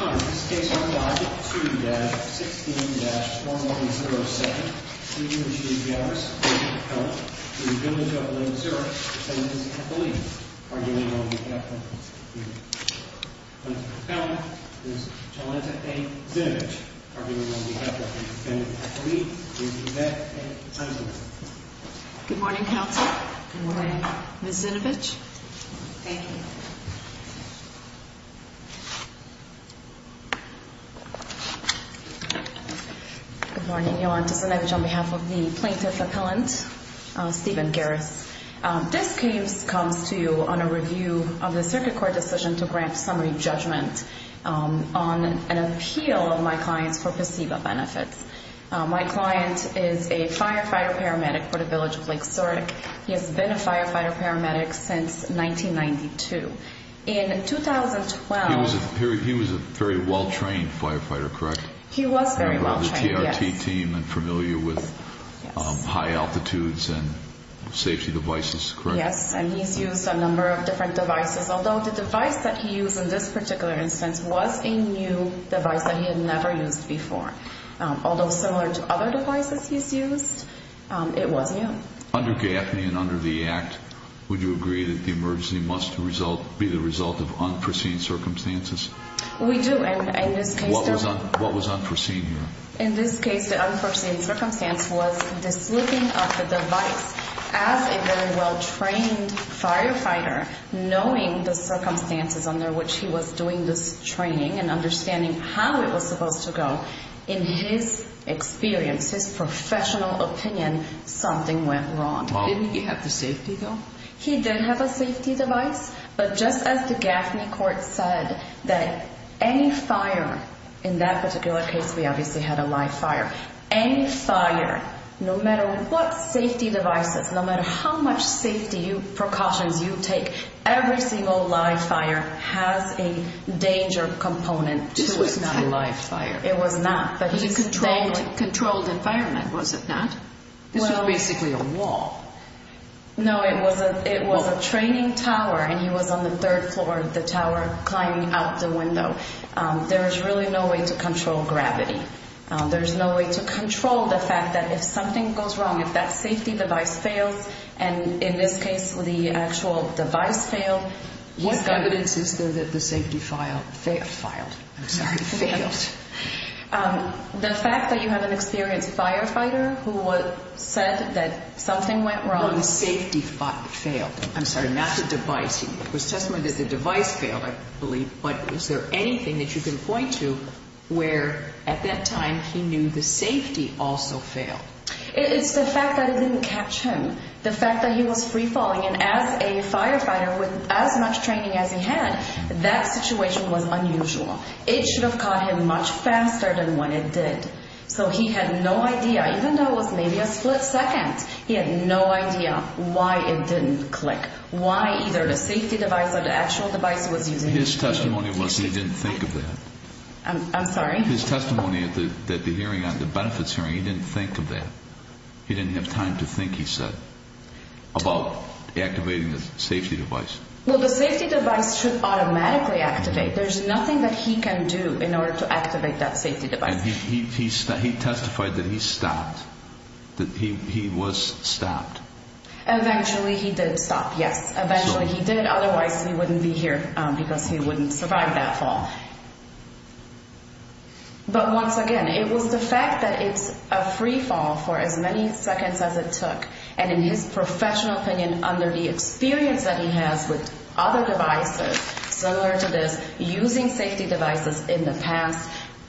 On this case on logic, 2-16-4107, v. Village of Lake Zurich, defendant is Ethelene, arguing on behalf of Ms. Zinovich. Defendant is Jolanta A. Zinovich, arguing on behalf of defendant Ethelene. Good morning, counsel. Good morning. Ms. Zinovich. Thank you. Good morning. Jolanta Zinovich on behalf of the plaintiff's appellant, Stephen Garris. This case comes to you on a review of the circuit court decision to grant summary judgment on an appeal of my client's for placebo benefits. My client is a firefighter paramedic for the Village of Lake Zurich. He has been a firefighter paramedic since 1992. In 2012... He was a very well-trained firefighter, correct? He was very well-trained, yes. A member of the TRT team and familiar with high altitudes and safety devices, correct? Yes, and he's used a number of different devices, although the device that he used in this particular instance was a new device that he had never used before. Although similar to other devices he's used, it was new. Under GAFNI and under the Act, would you agree that the emergency must be the result of unforeseen circumstances? We do, and in this case... What was unforeseen here? In this case, the unforeseen circumstance was the slipping of the device. As a very well-trained firefighter, knowing the circumstances under which he was doing this training and understanding how it was supposed to go... In his experience, his professional opinion, something went wrong. Didn't he have the safety device? He did have a safety device, but just as the GAFNI court said that any fire... In that particular case, we obviously had a live fire. Any fire, no matter what safety devices, no matter how much safety precautions you take, every single live fire has a danger component to it. This was not a live fire. It was not. It was a controlled environment, was it not? This was basically a wall. No, it was a training tower, and he was on the third floor of the tower, climbing out the window. There is really no way to control gravity. There's no way to control the fact that if something goes wrong, if that safety device fails, and in this case, the actual device failed... What evidence is there that the safety filed... Failed. I'm sorry. Failed. The fact that you have an experienced firefighter who said that something went wrong... Well, the safety failed. I'm sorry. Not the device. It was testimony that the device failed, I believe, but is there anything that you can point to where, at that time, he knew the safety also failed? It's the fact that it didn't catch him, the fact that he was free-falling, and as a firefighter with as much training as he had, that situation was unusual. It should have caught him much faster than when it did. So he had no idea, even though it was maybe a split second, he had no idea why it didn't click, why either the safety device or the actual device was using... His testimony was he didn't think of that. I'm sorry? His testimony at the hearing, at the benefits hearing, he didn't think of that. He didn't have time to think, he said, about activating the safety device. Well, the safety device should automatically activate. There's nothing that he can do in order to activate that safety device. And he testified that he stopped, that he was stopped. Eventually he did stop, yes. Eventually he did, otherwise he wouldn't be here because he wouldn't survive that fall. But once again, it was the fact that it's a free-fall for as many seconds as it took, and in his professional opinion, and under the experience that he has with other devices, similar to this, using safety devices in the past,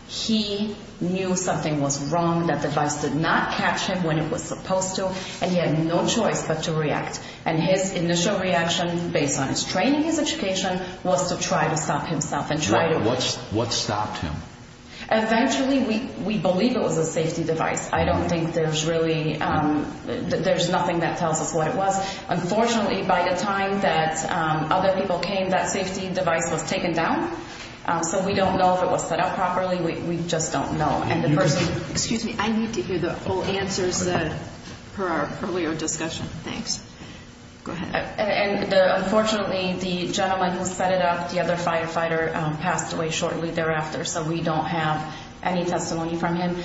he knew something was wrong. That device did not catch him when it was supposed to, and he had no choice but to react. And his initial reaction, based on his training, his education, was to try to stop himself and try to... What stopped him? Eventually, we believe it was a safety device. I don't think there's really... There's nothing that tells us what it was. Unfortunately, by the time that other people came, that safety device was taken down. So we don't know if it was set up properly. We just don't know. And the person... Excuse me. I need to hear the whole answers per our earlier discussion. Thanks. Go ahead. And unfortunately, the gentleman who set it up, the other firefighter, passed away shortly thereafter. So we don't have any testimony from him.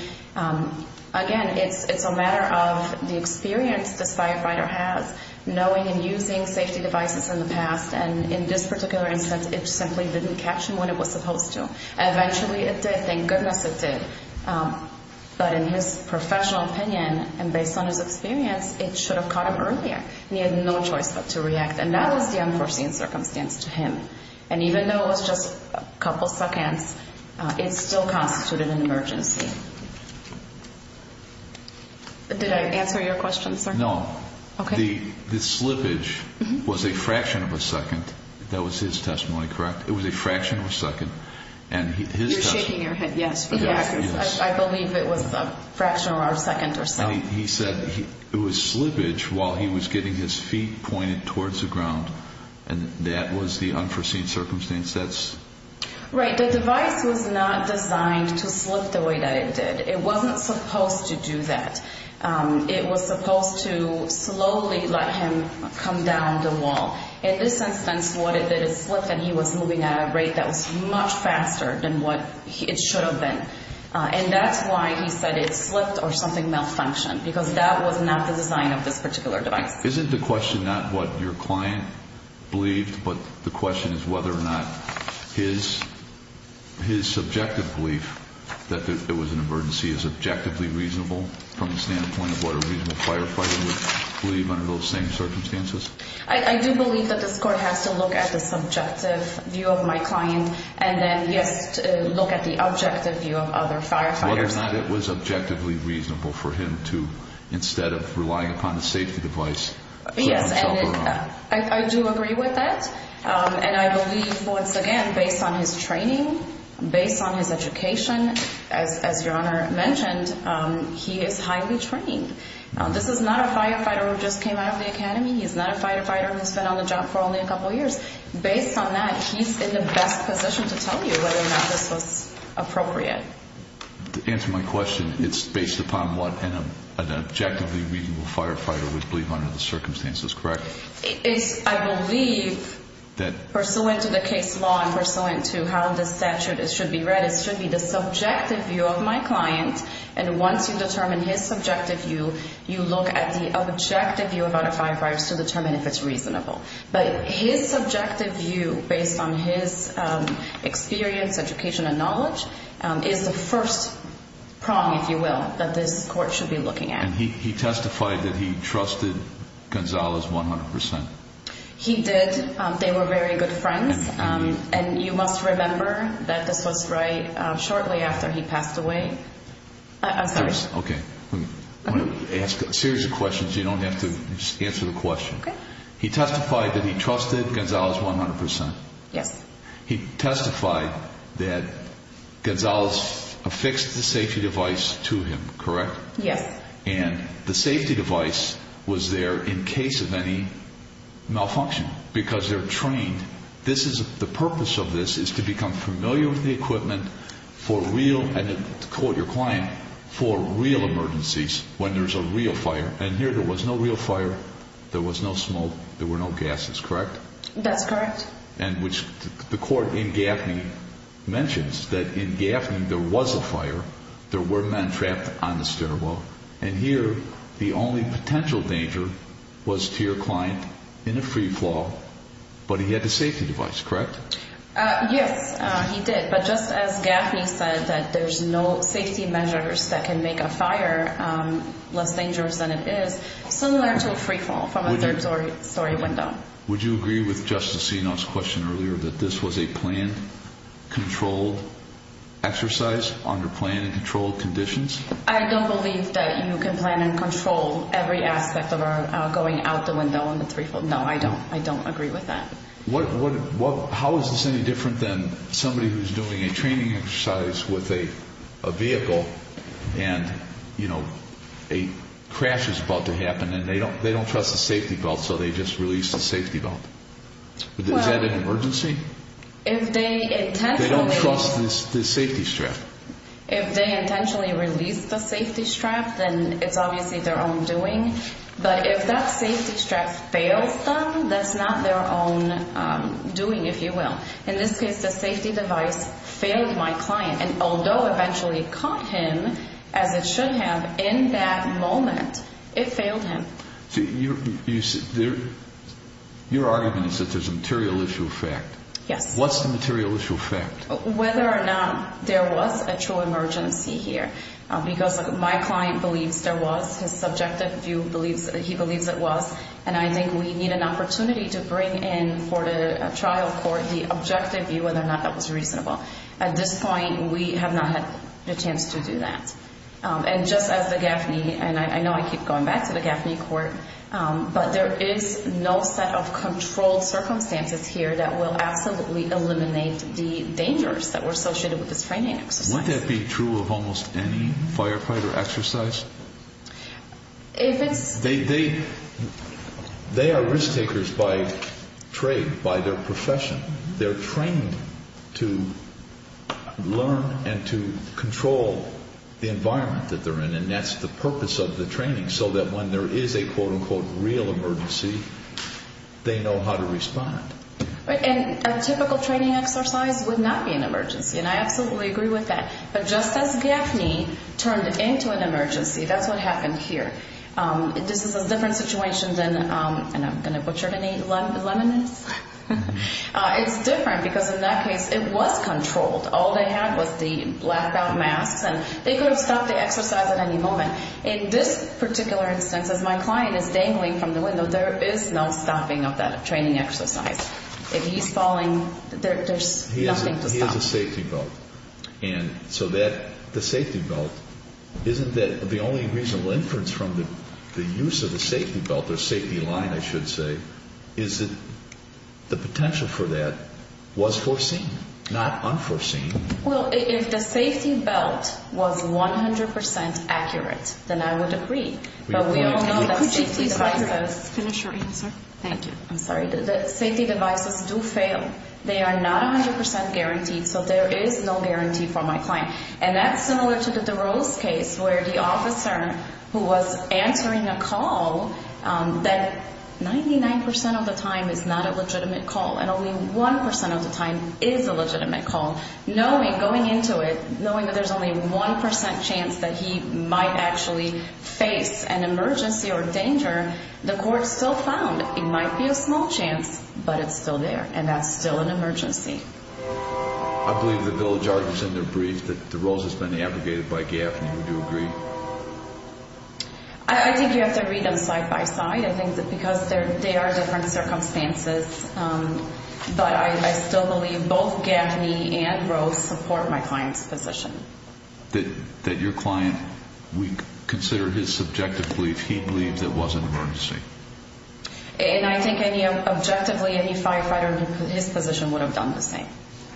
Again, it's a matter of the experience this firefighter has, knowing and using safety devices in the past. And in this particular instance, it simply didn't catch him when it was supposed to. Eventually, it did. Thank goodness it did. But in his professional opinion and based on his experience, it should have caught him earlier. And he had no choice but to react. And that was the unforeseen circumstance to him. And even though it was just a couple seconds, it still constituted an emergency. Did I answer your question, sir? No. Okay. The slippage was a fraction of a second. That was his testimony, correct? It was a fraction of a second. And his testimony... You're shaking your head, yes. Yes. I believe it was a fraction or a second or so. He said it was slippage while he was getting his feet pointed towards the ground. And that was the unforeseen circumstance. That's... Right. The device was not designed to slip the way that it did. It wasn't supposed to do that. It was supposed to slowly let him come down the wall. In this instance, what it did is slip, and he was moving at a rate that was much faster than what it should have been. And that's why he said it slipped or something malfunctioned, because that was not the design of this particular device. Isn't the question not what your client believed, but the question is whether or not his subjective belief that it was an emergency is objectively reasonable from the standpoint of what a reasonable firefighter would believe under those same circumstances? I do believe that this court has to look at the subjective view of my client and then look at the objective view of other firefighters. Whether or not it was objectively reasonable for him to, instead of relying upon a safety device, show himself around. I do agree with that. And I believe, once again, based on his training, based on his education, as your Honor mentioned, he is highly trained. This is not a firefighter who just came out of the academy. He's not a firefighter who's been on the job for only a couple years. Based on that, he's in the best position to tell you whether or not this was appropriate. To answer my question, it's based upon what an objectively reasonable firefighter would believe under the circumstances, correct? It's, I believe, pursuant to the case law and pursuant to how the statute should be read, it should be the subjective view of my client. And once you determine his subjective view, you look at the objective view of other firefighters to determine if it's reasonable. But his subjective view, based on his experience, education, and knowledge, is the first prong, if you will, that this court should be looking at. And he testified that he trusted Gonzalez 100%. He did. They were very good friends. And you must remember that this was shortly after he passed away. I'm sorry. Okay. Let me ask a series of questions. You don't have to answer the question. Okay. He testified that he trusted Gonzalez 100%. Yes. He testified that Gonzalez affixed the safety device to him, correct? Yes. And the safety device was there in case of any malfunction because they're trained. The purpose of this is to become familiar with the equipment for real, and to quote your client, for real emergencies when there's a real fire. And here there was no real fire. There was no smoke. There were no gases, correct? That's correct. And which the court in Gaffney mentions that in Gaffney there was a fire. There were men trapped on the stairwell. And here the only potential danger was to your client in a free fall, but he had the safety device, correct? Yes, he did. But just as Gaffney said that there's no safety measures that can make a fire less dangerous than it is, similar to a free fall from a third-story window. Would you agree with Justice Seno's question earlier that this was a planned, controlled exercise under planned and controlled conditions? I don't believe that you can plan and control every aspect of going out the window in the free fall. No, I don't. I don't agree with that. How is this any different than somebody who's doing a training exercise with a vehicle and, you know, a crash is about to happen and they don't trust the safety belt, so they just release the safety belt. Is that an emergency? They don't trust the safety strap. If they intentionally release the safety strap, then it's obviously their own doing. But if that safety strap fails them, that's not their own doing, if you will. In this case, the safety device failed my client, and although it eventually caught him as it should have in that moment, it failed him. So your argument is that there's a material issue of fact. Yes. What's the material issue of fact? Whether or not there was a true emergency here, because my client believes there was. His subjective view, he believes it was. And I think we need an opportunity to bring in for the trial court the objective view, whether or not that was reasonable. At this point, we have not had a chance to do that. And just as the GAFNI, and I know I keep going back to the GAFNI court, but there is no set of controlled circumstances here that will absolutely eliminate the dangers that were associated with this training exercise. Wouldn't that be true of almost any firefighter exercise? If it's... They are risk-takers by trade, by their profession. They're trained to learn and to control the environment that they're in, and that's the purpose of the training, so that when there is a, quote, unquote, real emergency, they know how to respond. And a typical training exercise would not be an emergency, and I absolutely agree with that. But just as GAFNI turned into an emergency, that's what happened here. This is a different situation than... And I'm going to butcher any lemonades. It's different because in that case, it was controlled. All they had was the blackout masks, and they could have stopped the exercise at any moment. In this particular instance, as my client is dangling from the window, there is no stopping of that training exercise. If he's falling, there's nothing to stop. He has a safety belt, and so the safety belt, isn't that the only reasonable inference from the use of the safety belt, or safety line, I should say, is that the potential for that was foreseen, not unforeseen? Well, if the safety belt was 100% accurate, then I would agree. Could you please finish your answer? Thank you. I'm sorry. The safety devices do fail. They are not 100% guaranteed, so there is no guarantee for my client. And that's similar to the DeRose case, where the officer who was answering a call, that 99% of the time is not a legitimate call, and only 1% of the time is a legitimate call, knowing, going into it, knowing that there's only 1% chance that he might actually face an emergency or danger, the court still found it might be a small chance, but it's still there, and that's still an emergency. I believe the Village Artist, in their brief, that DeRose has been abrogated by Gaffney, would you agree? I think you have to read them side by side, I think, because they are different circumstances. But I still believe both Gaffney and DeRose support my client's position. That your client, we consider his subjective belief, he believed it was an emergency. And I think any, objectively, any firefighter, his position would have done the same,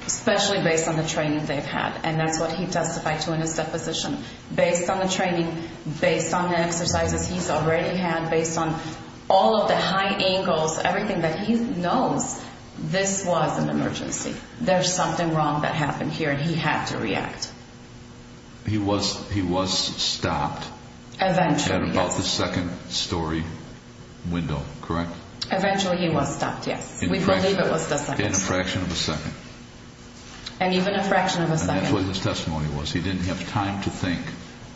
especially based on the training they've had, and that's what he testified to in his deposition. Based on the training, based on the exercises he's already had, based on all of the high angles, everything that he knows, this was an emergency. There's something wrong that happened here, and he had to react. He was stopped. Eventually, yes. At about the second story window, correct? Eventually he was stopped, yes. We believe it was the second. In a fraction of a second. And even a fraction of a second. And that's what his testimony was. He didn't have time to think,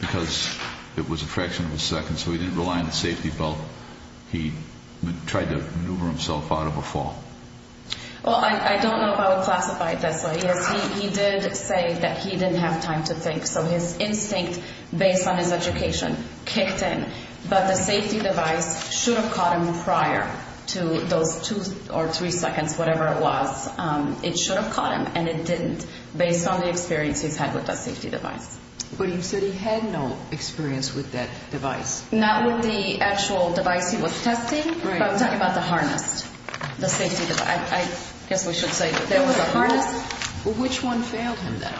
because it was a fraction of a second, so he didn't rely on the safety belt. He tried to maneuver himself out of a fall. Well, I don't know if I would classify it this way. Yes, he did say that he didn't have time to think, so his instinct, based on his education, kicked in. But the safety device should have caught him prior to those two or three seconds, whatever it was. It should have caught him, and it didn't, based on the experience he's had with the safety device. But he said he had no experience with that device. Not with the actual device he was testing, but I'm talking about the harness, the safety device. I guess we should say that there was a harness. Which one failed him, then?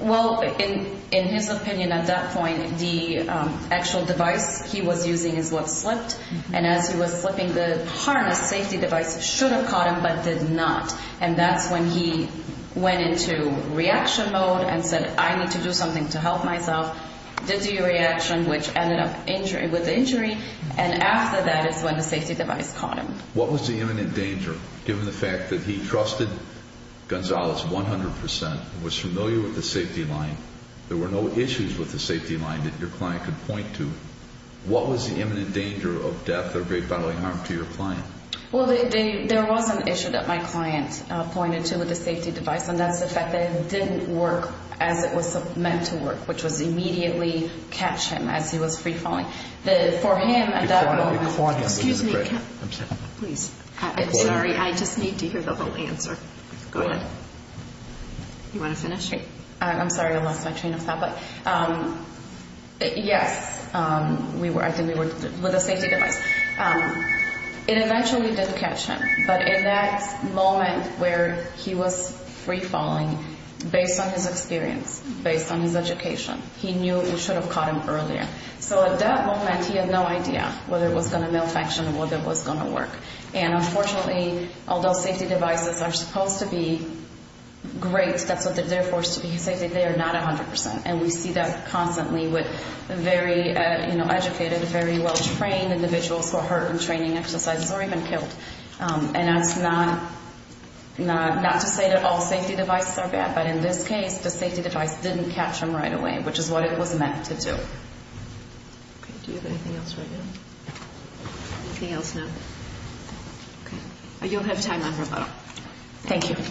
Well, in his opinion at that point, the actual device he was using is what slipped. And as he was slipping, the harness safety device should have caught him but did not. And that's when he went into reaction mode and said, I need to do something to help myself. Did the reaction, which ended up with injury, and after that is when the safety device caught him. What was the imminent danger, given the fact that he trusted Gonzalez 100%, was familiar with the safety line, there were no issues with the safety line that your client could point to? What was the imminent danger of death or great bodily harm to your client? Well, there was an issue that my client pointed to with the safety device, and that's the fact that it didn't work as it was meant to work, which was immediately catch him as he was free falling. For him at that moment. Excuse me. I'm sorry, I just need to hear the whole answer. Go ahead. You want to finish? I'm sorry, I lost my train of thought. Yes, I think we were with the safety device. It eventually did catch him, but in that moment where he was free falling, based on his experience, based on his education, he knew it should have caught him earlier. So at that moment, he had no idea whether it was going to malfunction or whether it was going to work. And unfortunately, although safety devices are supposed to be great, that's what they're there for, to be safe, they are not 100%. And we see that constantly with very educated, very well-trained individuals who are hurt in training exercises or even killed. And that's not to say that all safety devices are bad, but in this case, the safety device didn't catch him right away, which is what it was meant to do. Do you have anything else right now? Anything else now? Okay. You'll have time on rebuttal. Thank you. Thank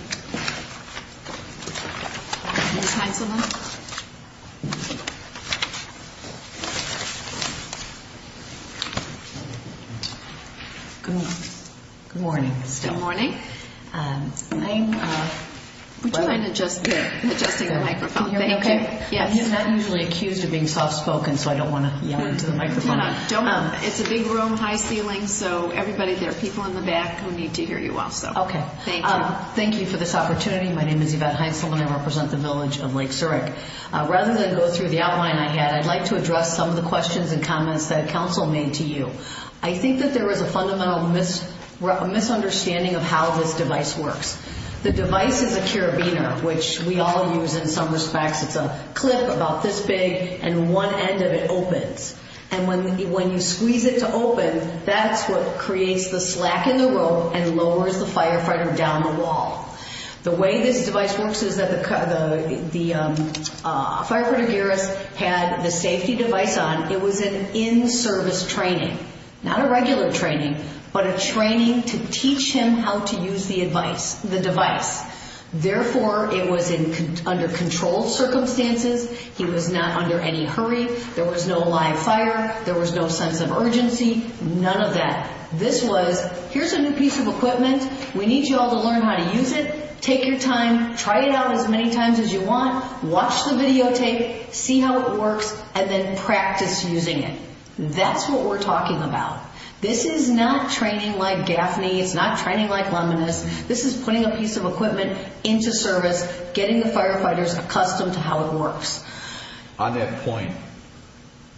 you. Ms. Heintzelman? Good morning. Good morning. Would you mind adjusting the microphone? Can you hear me okay? Yes. I'm not usually accused of being soft-spoken, so I don't want to yell into the microphone. It's a big room, high ceiling, so everybody, there are people in the back who need to hear you also. Okay. Thank you. Thank you for this opportunity. My name is Yvette Heintzelman. I represent the village of Lake Zurich. Rather than go through the outline I had, I'd like to address some of the questions and comments that counsel made to you. I think that there is a fundamental misunderstanding of how this device works. The device is a carabiner, which we all use in some respects. It's a clip about this big, and one end of it opens. And when you squeeze it to open, that's what creates the slack in the rope and lowers the firefighter down the wall. The way this device works is that the firefighter, Garris, had the safety device on. It was an in-service training, not a regular training, but a training to teach him how to use the device. Therefore, it was under controlled circumstances. He was not under any hurry. There was no live fire. There was no sense of urgency. None of that. This was, here's a new piece of equipment. We need you all to learn how to use it. Take your time. Try it out as many times as you want. Watch the videotape. See how it works. And then practice using it. That's what we're talking about. This is not training like Gaffney. It's not training like Luminous. This is putting a piece of equipment into service, getting the firefighters accustomed to how it works. On that point,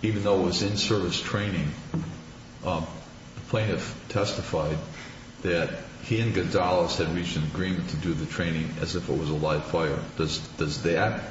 even though it was in-service training, the plaintiff testified that he and Gonzalez had reached an agreement to do the training as if it was a live fire. Does that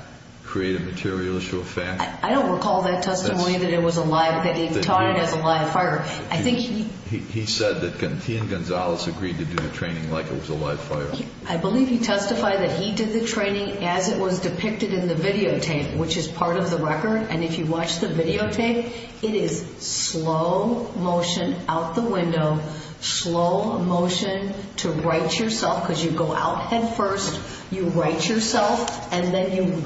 create a material issue of fact? I don't recall that testimony that it was a live, that he taught it as a live fire. He said that he and Gonzalez agreed to do the training like it was a live fire. I believe he testified that he did the training as it was depicted in the videotape, which is part of the record. And if you watch the videotape, it is slow motion out the window, slow motion to right yourself, because you go out head first, you right yourself, and then you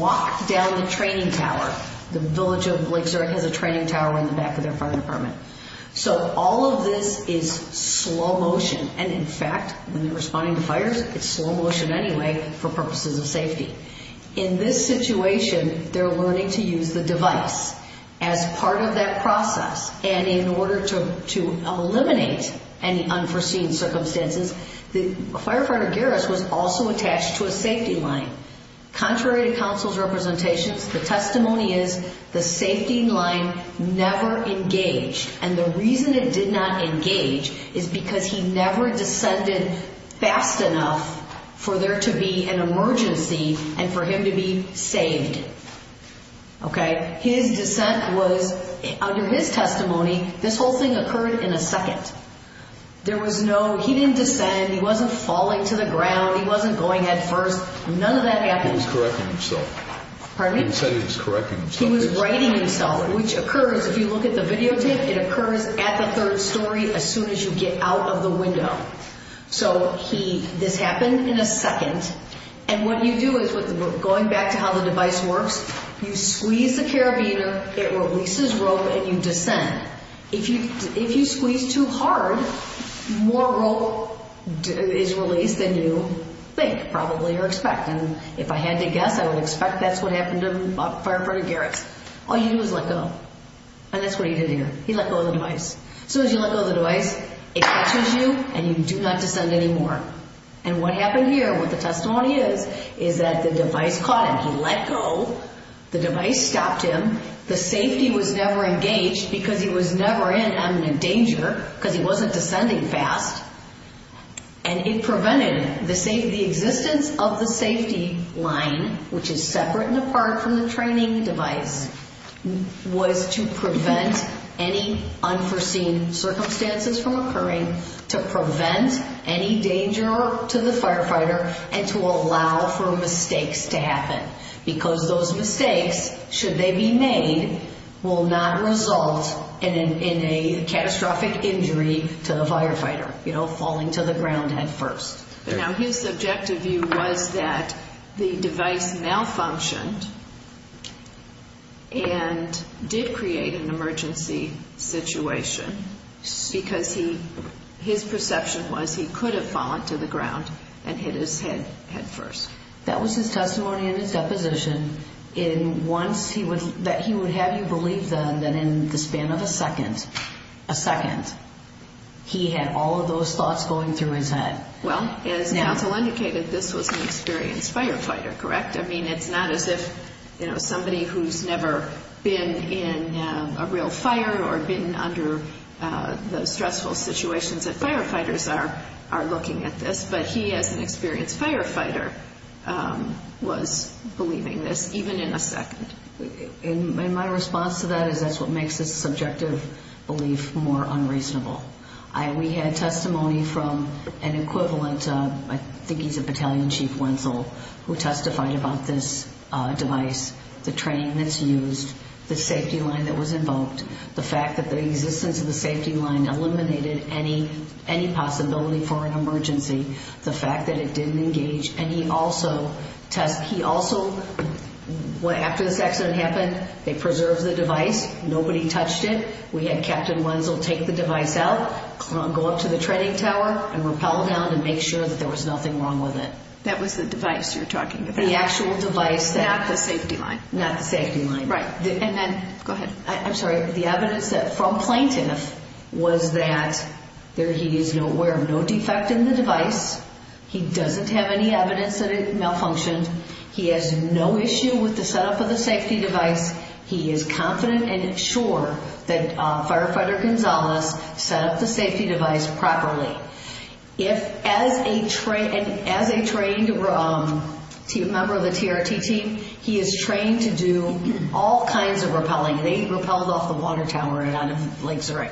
walk down the training tower. The village of Lake Zurich has a training tower in the back of their fire department. So all of this is slow motion. And, in fact, when they're responding to fires, it's slow motion anyway for purposes of safety. In this situation, they're learning to use the device as part of that process. And in order to eliminate any unforeseen circumstances, the firefighter, Garris, was also attached to a safety line. Contrary to counsel's representations, the testimony is the safety line never engaged. And the reason it did not engage is because he never descended fast enough for there to be an emergency and for him to be saved. Okay? His descent was, under his testimony, this whole thing occurred in a second. There was no, he didn't descend, he wasn't falling to the ground, he wasn't going head first. None of that happened. He was correcting himself. Pardon me? He said he was correcting himself. He was writing himself, which occurs, if you look at the videotape, it occurs at the third story as soon as you get out of the window. So he, this happened in a second. And what you do is, going back to how the device works, you squeeze the carabiner, it releases rope, and you descend. If you squeeze too hard, more rope is released than you think, probably, or expect. And if I had to guess, I would expect that's what happened to Firefighter Garretts. All you do is let go. And that's what he did here. He let go of the device. As soon as you let go of the device, it catches you, and you do not descend anymore. And what happened here, what the testimony is, is that the device caught him. He let go. The device stopped him. The safety was never engaged because he was never in imminent danger because he wasn't descending fast. And it prevented the safety, the existence of the safety line, which is separate and apart from the training device, was to prevent any unforeseen circumstances from occurring, to prevent any danger to the firefighter, and to allow for mistakes to happen because those mistakes, should they be made, will not result in a catastrophic injury to the firefighter, you know, falling to the ground headfirst. Now, his subjective view was that the device malfunctioned and did create an emergency situation because his perception was he could have fallen to the ground and hit his head headfirst. That was his testimony in his deposition that he would have you believe then that in the span of a second, a second, he had all of those thoughts going through his head. Well, as counsel indicated, this was an experienced firefighter, correct? I mean, it's not as if, you know, somebody who's never been in a real fire or been under the stressful situations that firefighters are looking at this, but he, as an experienced firefighter, was believing this even in a second. And my response to that is that's what makes this subjective belief more unreasonable. We had testimony from an equivalent, I think he's a battalion chief, Wenzel, who testified about this device, the training that's used, the safety line that was invoked, the fact that the existence of the safety line eliminated any possibility for an emergency, the fact that it didn't engage any also tests. He also, after this accident happened, they preserved the device. Nobody touched it. We had Captain Wenzel take the device out, go up to the training tower, and rappel down to make sure that there was nothing wrong with it. That was the device you're talking about. The actual device. Not the safety line. Not the safety line. Right. And then, go ahead. I'm sorry. The evidence from plaintiff was that he is aware of no defect in the device. He doesn't have any evidence that it malfunctioned. He has no issue with the setup of the safety device. He is confident and sure that Firefighter Gonzalez set up the safety device properly. As a trained member of the TRT team, he is trained to do all kinds of rappelling. They rappelled off the water tower and out of Lake Zurich.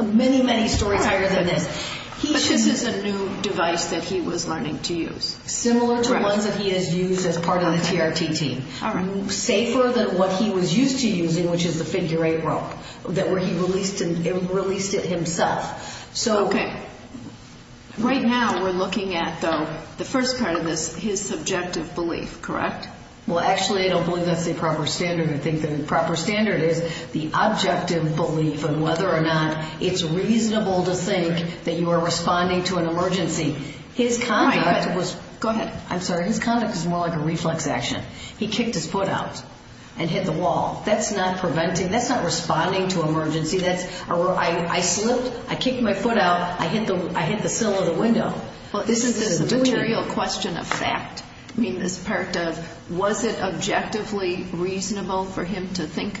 Many, many stories higher than this. But this is a new device that he was learning to use. Similar to ones that he has used as part of the TRT team. All right. Safer than what he was used to using, which is the figure eight rope, where he released it himself. Okay. Right now, we're looking at, though, the first part of this, his subjective belief. Correct? Well, actually, I don't believe that's the proper standard. I think the proper standard is the objective belief on whether or not it's reasonable to think that you are responding to an emergency. His conduct was... Go ahead. I'm sorry. His conduct was more like a reflex action. He kicked his foot out and hit the wall. That's not preventing. That's not responding to emergency. I slipped. I kicked my foot out. I hit the sill of the window. This is a material question of fact. I mean, this part of was it objectively reasonable for him to think?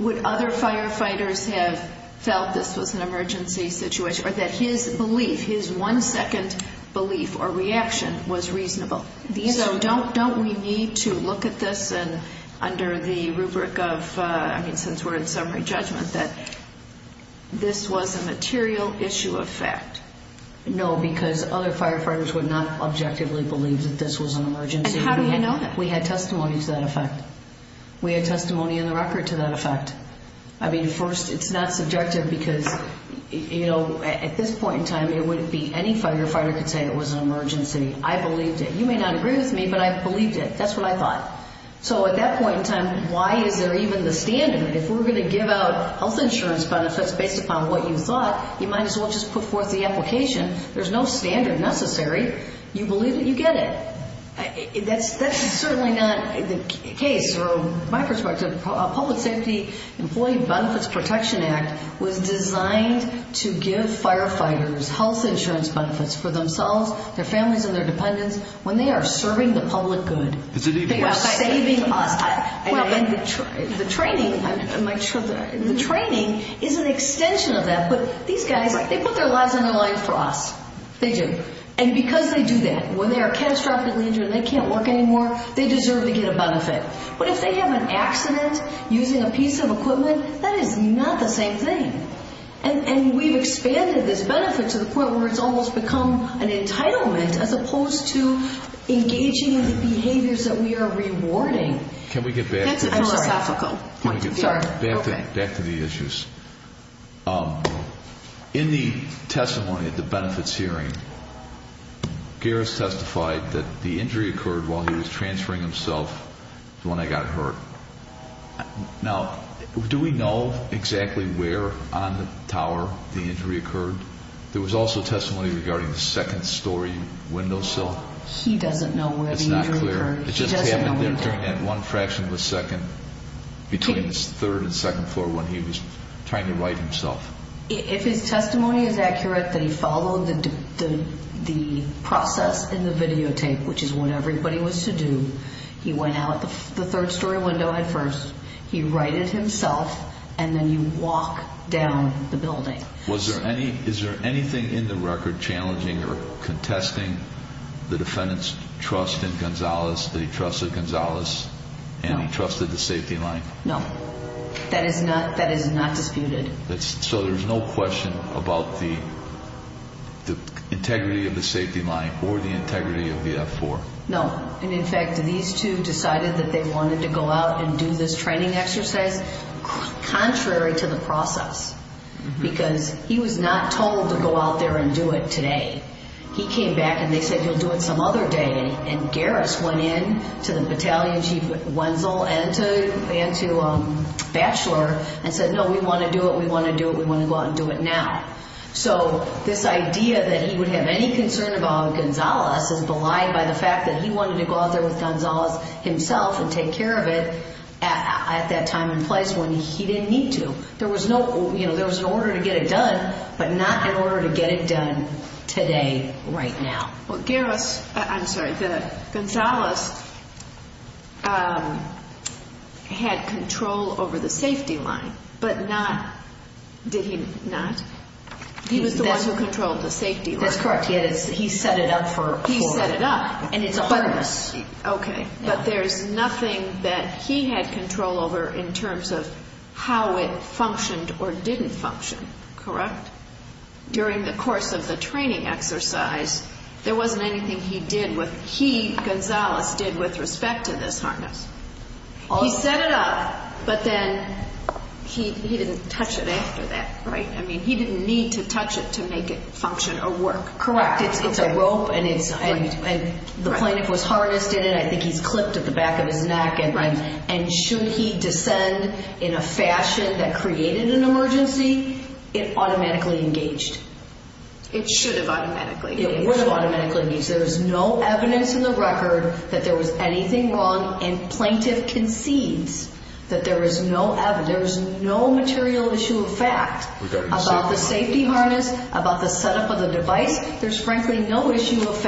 Would other firefighters have felt this was an emergency situation or that his belief, his one-second belief or reaction was reasonable? So don't we need to look at this under the rubric of, I mean, since we're in summary judgment, that this was a material issue of fact? No, because other firefighters would not objectively believe that this was an emergency. And how do we know that? We had testimony to that effect. We had testimony in the record to that effect. I mean, first, it's not subjective because, you know, at this point in time, it wouldn't be any firefighter could say it was an emergency. I believed it. You may not agree with me, but I believed it. That's what I thought. So at that point in time, why is there even the standard? If we're going to give out health insurance benefits based upon what you thought, you might as well just put forth the application. There's no standard necessary. You believe it, you get it. That's certainly not the case from my perspective. The Public Safety Employee Benefits Protection Act was designed to give firefighters health insurance benefits for themselves, their families, and their dependents when they are serving the public good. They are saving us. The training is an extension of that. But these guys, they put their lives and their lives for us. They do. And because they do that, when they are catastrophically injured and they can't work anymore, they deserve to get a benefit. But if they have an accident using a piece of equipment, that is not the same thing. And we've expanded this benefit to the point where it's almost become an entitlement as opposed to engaging in the behaviors that we are rewarding. Can we get back to the issues? In the testimony at the benefits hearing, Garris testified that the injury occurred while he was transferring himself when I got hurt. Now, do we know exactly where on the tower the injury occurred? There was also testimony regarding the second story windowsill. He doesn't know where the injury occurred. It just happened there during that one fraction of a second between the third and second floor when he was trying to right himself. If his testimony is accurate, they followed the process in the videotape, which is what everybody was to do. He went out the third story window at first. He righted himself. And then you walk down the building. Is there anything in the record challenging or contesting the defendant's trust in Gonzalez, that he trusted Gonzalez and he trusted the safety line? No. That is not disputed. So there's no question about the integrity of the safety line or the integrity of the F-4? No. And, in fact, these two decided that they wanted to go out and do this training exercise contrary to the process because he was not told to go out there and do it today. He came back and they said, You'll do it some other day. And Garris went in to the Battalion Chief Wenzel and to Batchelor and said, No, we want to do it, we want to do it, we want to go out and do it now. So this idea that he would have any concern about Gonzalez is belied by the fact that he wanted to go out there with Gonzalez himself and take care of it at that time and place when he didn't need to. There was an order to get it done, but not an order to get it done today, right now. Well, Garris, I'm sorry, Gonzalez had control over the safety line, but not, did he not? He was the one who controlled the safety line. That's correct. He set it up for. He set it up. And it's a harness. Okay, but there's nothing that he had control over in terms of how it functioned or didn't function, correct? During the course of the training exercise, there wasn't anything he did with, he, Gonzalez, did with respect to this harness. He set it up, but then he didn't touch it after that, right? I mean, he didn't need to touch it to make it function or work. Correct. In fact, it's a rope, and the plaintiff was harnessed in it, and I think he's clipped at the back of his neck, and should he descend in a fashion that created an emergency, it automatically engaged. It should have automatically engaged. It would have automatically engaged. There's no evidence in the record that there was anything wrong, and plaintiff concedes that there is no evidence. There is no material issue of fact about the safety harness, about the setup of the device. There's, frankly, no issue of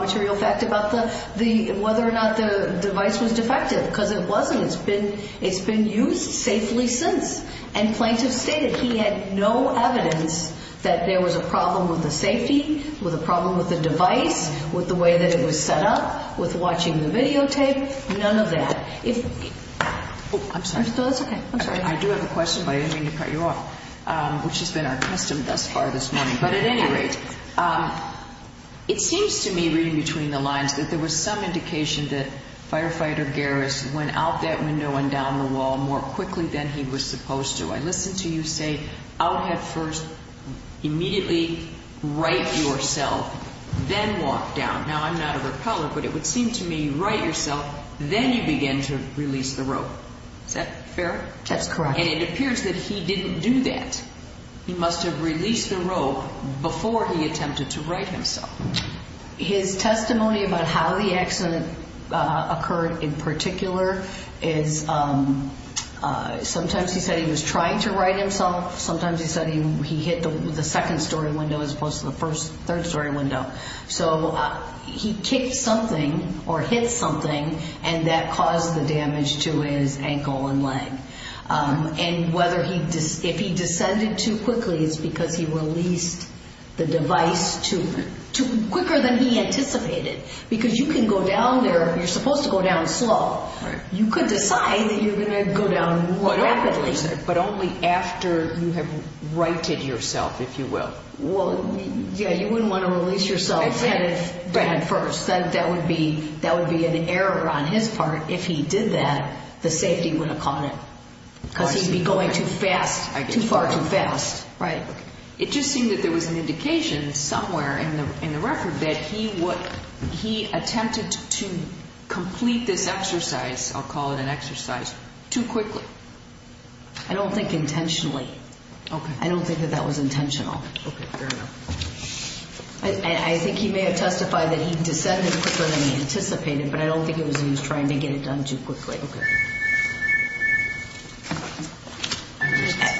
material fact about whether or not the device was defective, because it wasn't. It's been used safely since, and plaintiff stated he had no evidence that there was a problem with the safety, with a problem with the device, with the way that it was set up, with watching the videotape, none of that. I'm sorry. That's okay. I do have a question, but I didn't mean to cut you off, which has been our custom thus far this morning. But at any rate, it seems to me, reading between the lines, that there was some indication that firefighter Garris went out that window and down the wall more quickly than he was supposed to. I listened to you say, out head first, immediately right yourself, then walk down. Now, I'm not a rappeller, but it would seem to me you right yourself, then you begin to release the rope. Is that fair? That's correct. And it appears that he didn't do that. He must have released the rope before he attempted to right himself. His testimony about how the accident occurred, in particular, is sometimes he said he was trying to right himself. Sometimes he said he hit the second-story window as opposed to the third-story window. So he kicked something or hit something, and that caused the damage to his ankle and leg. And if he descended too quickly, it's because he released the device quicker than he anticipated. Because you can go down there, you're supposed to go down slow. You could decide that you're going to go down more rapidly. But only after you have righted yourself, if you will. Well, yeah, you wouldn't want to release yourself head first. That would be an error on his part. If he did that, the safety would have caught him because he'd be going too fast, too far, too fast. Right. It just seemed that there was an indication somewhere in the record that he attempted to complete this exercise, I'll call it an exercise, too quickly. I don't think intentionally. Okay. I don't think that that was intentional. Okay, fair enough. I think he may have testified that he descended quicker than he anticipated, but I don't think it was that he was trying to get it done too quickly. Okay.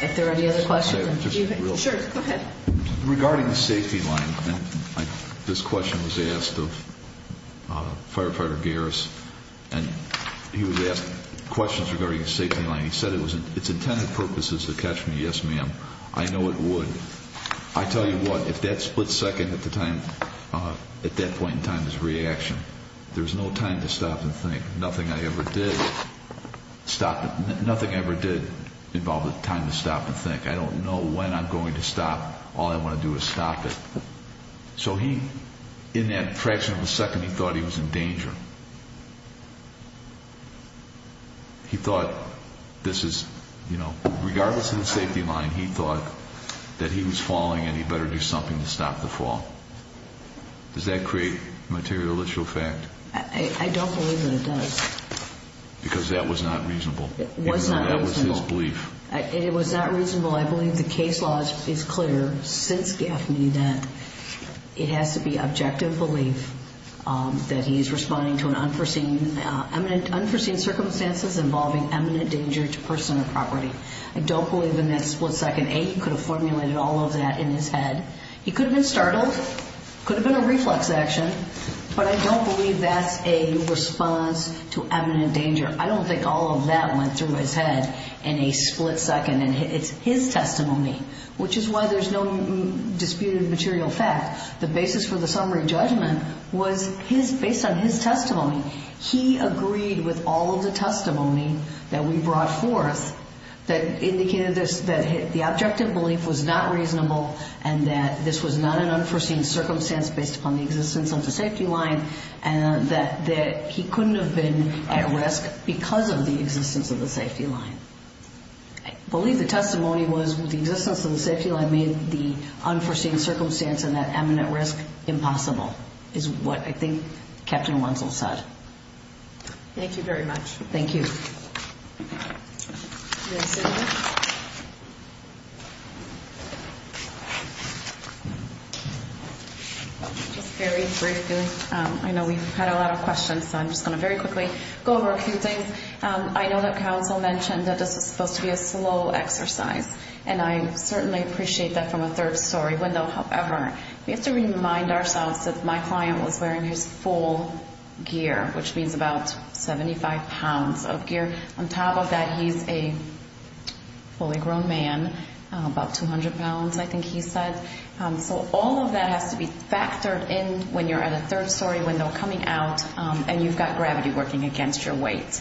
If there are any other questions. Sure, go ahead. Regarding the safety line, this question was asked of Firefighter Garris, and he was asked questions regarding the safety line. He said, it's intended purposes to catch me, yes, ma'am. I know it would. I tell you what, if that split second at that point in time is reaction, there's no time to stop and think. Nothing I ever did involved a time to stop and think. I don't know when I'm going to stop. All I want to do is stop it. So he, in that fraction of a second, he thought he was in danger. He thought this is, you know, regardless of the safety line, he thought that he was falling and he better do something to stop the fall. Does that create materialistic effect? I don't believe that it does. Because that was not reasonable. It was not reasonable. That was his belief. It was not reasonable. I believe the case law is clear since Gaffney that it has to be objective belief that he is responding to an unforeseen circumstances involving eminent danger to personal property. I don't believe in that split second. A, he could have formulated all of that in his head. He could have been startled. Could have been a reflex action. But I don't believe that's a response to eminent danger. I don't think all of that went through his head in a split second. It's his testimony, which is why there's no disputed material fact. The basis for the summary judgment was based on his testimony. He agreed with all of the testimony that we brought forth that indicated that the objective belief was not reasonable and that this was not an unforeseen circumstance based upon the existence of the safety line and that he couldn't have been at risk because of the existence of the safety line. I believe the testimony was the existence of the safety line made the unforeseen circumstance and that eminent risk impossible is what I think Captain Wenzel said. Thank you very much. Thank you. Thank you. Just very briefly, I know we've had a lot of questions, so I'm just going to very quickly go over a few things. I know that counsel mentioned that this was supposed to be a slow exercise, and I certainly appreciate that from a third story window. However, we have to remind ourselves that my client was wearing his full gear, which means about 75 pounds of gear. On top of that, he's a fully grown man, about 200 pounds, I think he said. So all of that has to be factored in when you're at a third story window coming out and you've got gravity working against your weight.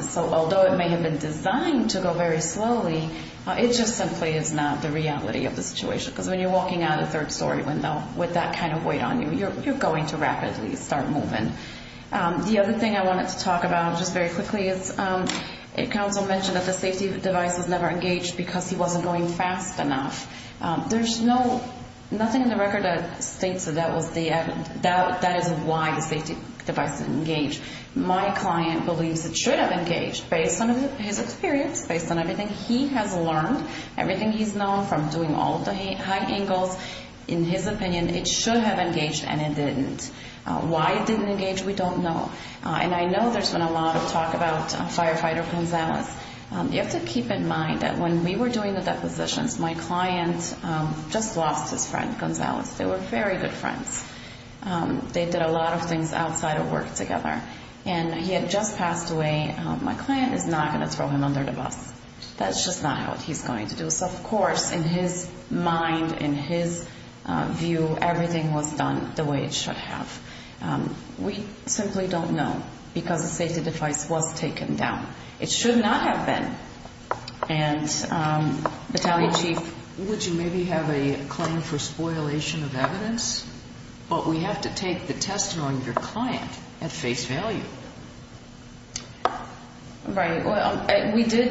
So although it may have been designed to go very slowly, it just simply is not the reality of the situation because when you're walking out of a third story window with that kind of weight on you, you're going to rapidly start moving. The other thing I wanted to talk about just very quickly is, counsel mentioned that the safety device was never engaged because he wasn't going fast enough. There's nothing in the record that states that that is why the safety device didn't engage. My client believes it should have engaged. Based on his experience, based on everything he has learned, everything he's known from doing all of the high angles, in his opinion, it should have engaged and it didn't. Why it didn't engage, we don't know. And I know there's been a lot of talk about Firefighter Gonzalez. You have to keep in mind that when we were doing the depositions, my client just lost his friend, Gonzalez. They were very good friends. They did a lot of things outside of work together. And he had just passed away. My client is not going to throw him under the bus. That's just not what he's going to do. Of course, in his mind, in his view, everything was done the way it should have. We simply don't know because the safety device was taken down. It should not have been. And Battaglia Chief. Would you maybe have a claim for spoilation of evidence? But we have to take the testimony of your client at face value. Right. We do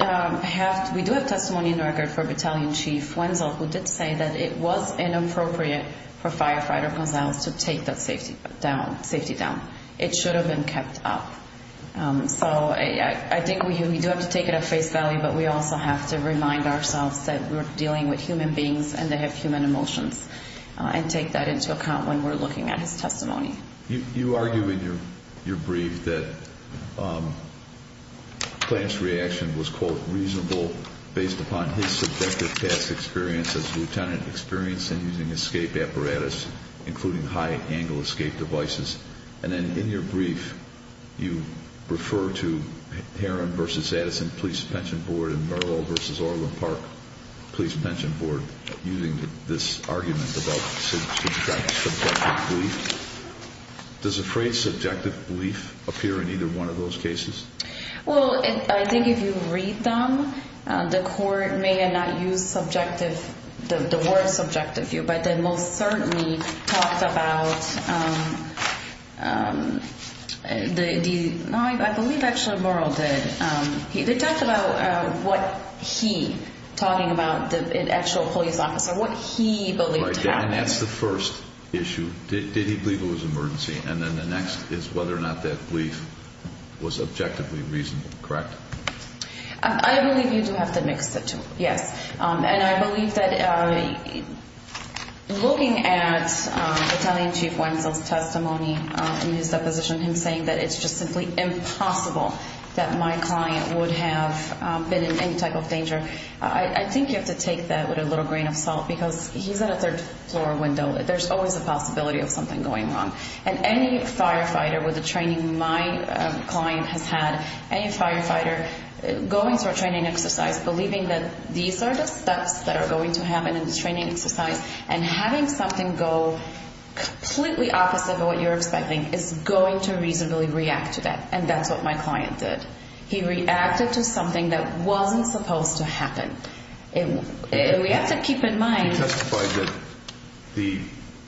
have testimony in regard for Battaglia Chief Wenzel, who did say that it was inappropriate for Firefighter Gonzalez to take that safety down. It should have been kept up. So I think we do have to take it at face value, but we also have to remind ourselves that we're dealing with human beings and they have human emotions and take that into account when we're looking at his testimony. You argue in your brief that the client's reaction was, quote, reasonable based upon his subjective past experience as a lieutenant experiencing using escape apparatus, including high angle escape devices. And then in your brief, you refer to Heron v. Addison Police Pension Board and Merrill v. Orland Park Police Pension Board using this argument about subjective belief. Does the phrase subjective belief appear in either one of those cases? Well, I think if you read them, the court may not use subjective, the word subjective view, but they most certainly talked about, I believe actually Merrill did, they talked about what he, talking about the actual police officer, what he believed happened. And that's the first issue. Did he believe it was an emergency? And then the next is whether or not that belief was objectively reasonable, correct? I believe you do have to mix the two, yes. And I believe that looking at Italian Chief Wenzel's testimony in his deposition, him saying that it's just simply impossible that my client would have been in any type of danger, I think you have to take that with a little grain of salt because he's in a third floor window. There's always a possibility of something going wrong. And any firefighter with the training my client has had, any firefighter going through a training exercise, believing that these are the steps that are going to happen in the training exercise, and having something go completely opposite of what you're expecting is going to reasonably react to that. And that's what my client did. He reacted to something that wasn't supposed to happen. We have to keep in mind... He testified that the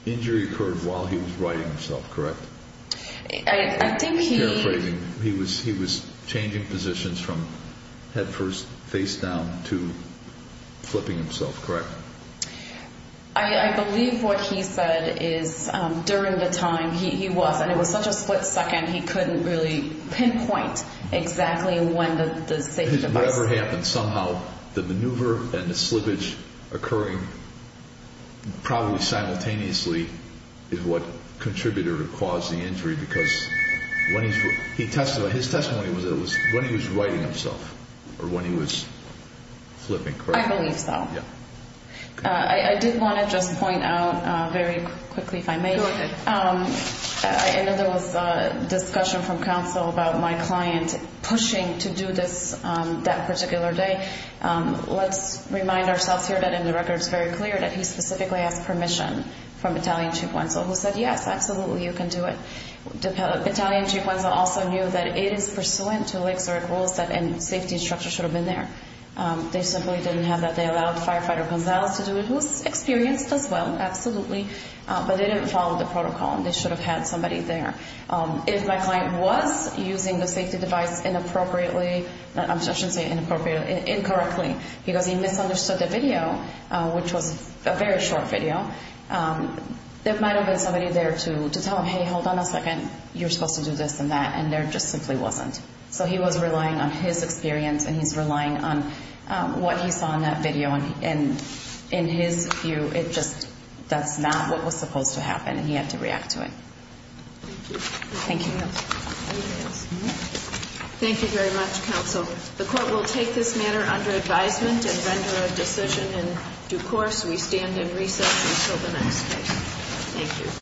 injury occurred while he was righting himself, correct? I think he... He was changing positions from head first, face down, to flipping himself, correct? I believe what he said is during the time he was, and it was such a split second, he couldn't really pinpoint exactly when the safety device... Whatever happened, somehow the maneuver and the slippage occurring probably simultaneously is what contributed or caused the injury because when he's... His testimony was when he was righting himself, or when he was flipping, correct? I believe so. I did want to just point out very quickly, if I may. Go ahead. I know there was a discussion from counsel about my client pushing to do this that particular day. Let's remind ourselves here that in the record it's very clear that he specifically asked permission from Battalion Chief Wenzel, who said, yes, absolutely, you can do it. Battalion Chief Wenzel also knew that it is pursuant to Lake Zurich rules that a safety structure should have been there. They simply didn't have that. They allowed Firefighter Wenzel to do it, who's experienced as well, absolutely, but they didn't follow the protocol and they should have had somebody there. If my client was using the safety device inappropriately, I shouldn't say inappropriately, incorrectly, because he misunderstood the video, which was a very short video, there might have been somebody there to tell him, hey, hold on a second, you're supposed to do this and that, and there just simply wasn't. So he was relying on his experience and he's relying on what he saw in that video. And in his view, it just, that's not what was supposed to happen and he had to react to it. Thank you. Anything else? Thank you very much, counsel. The court will take this matter under advisement and render a decision in due course. We stand in recess until the next case. Thank you.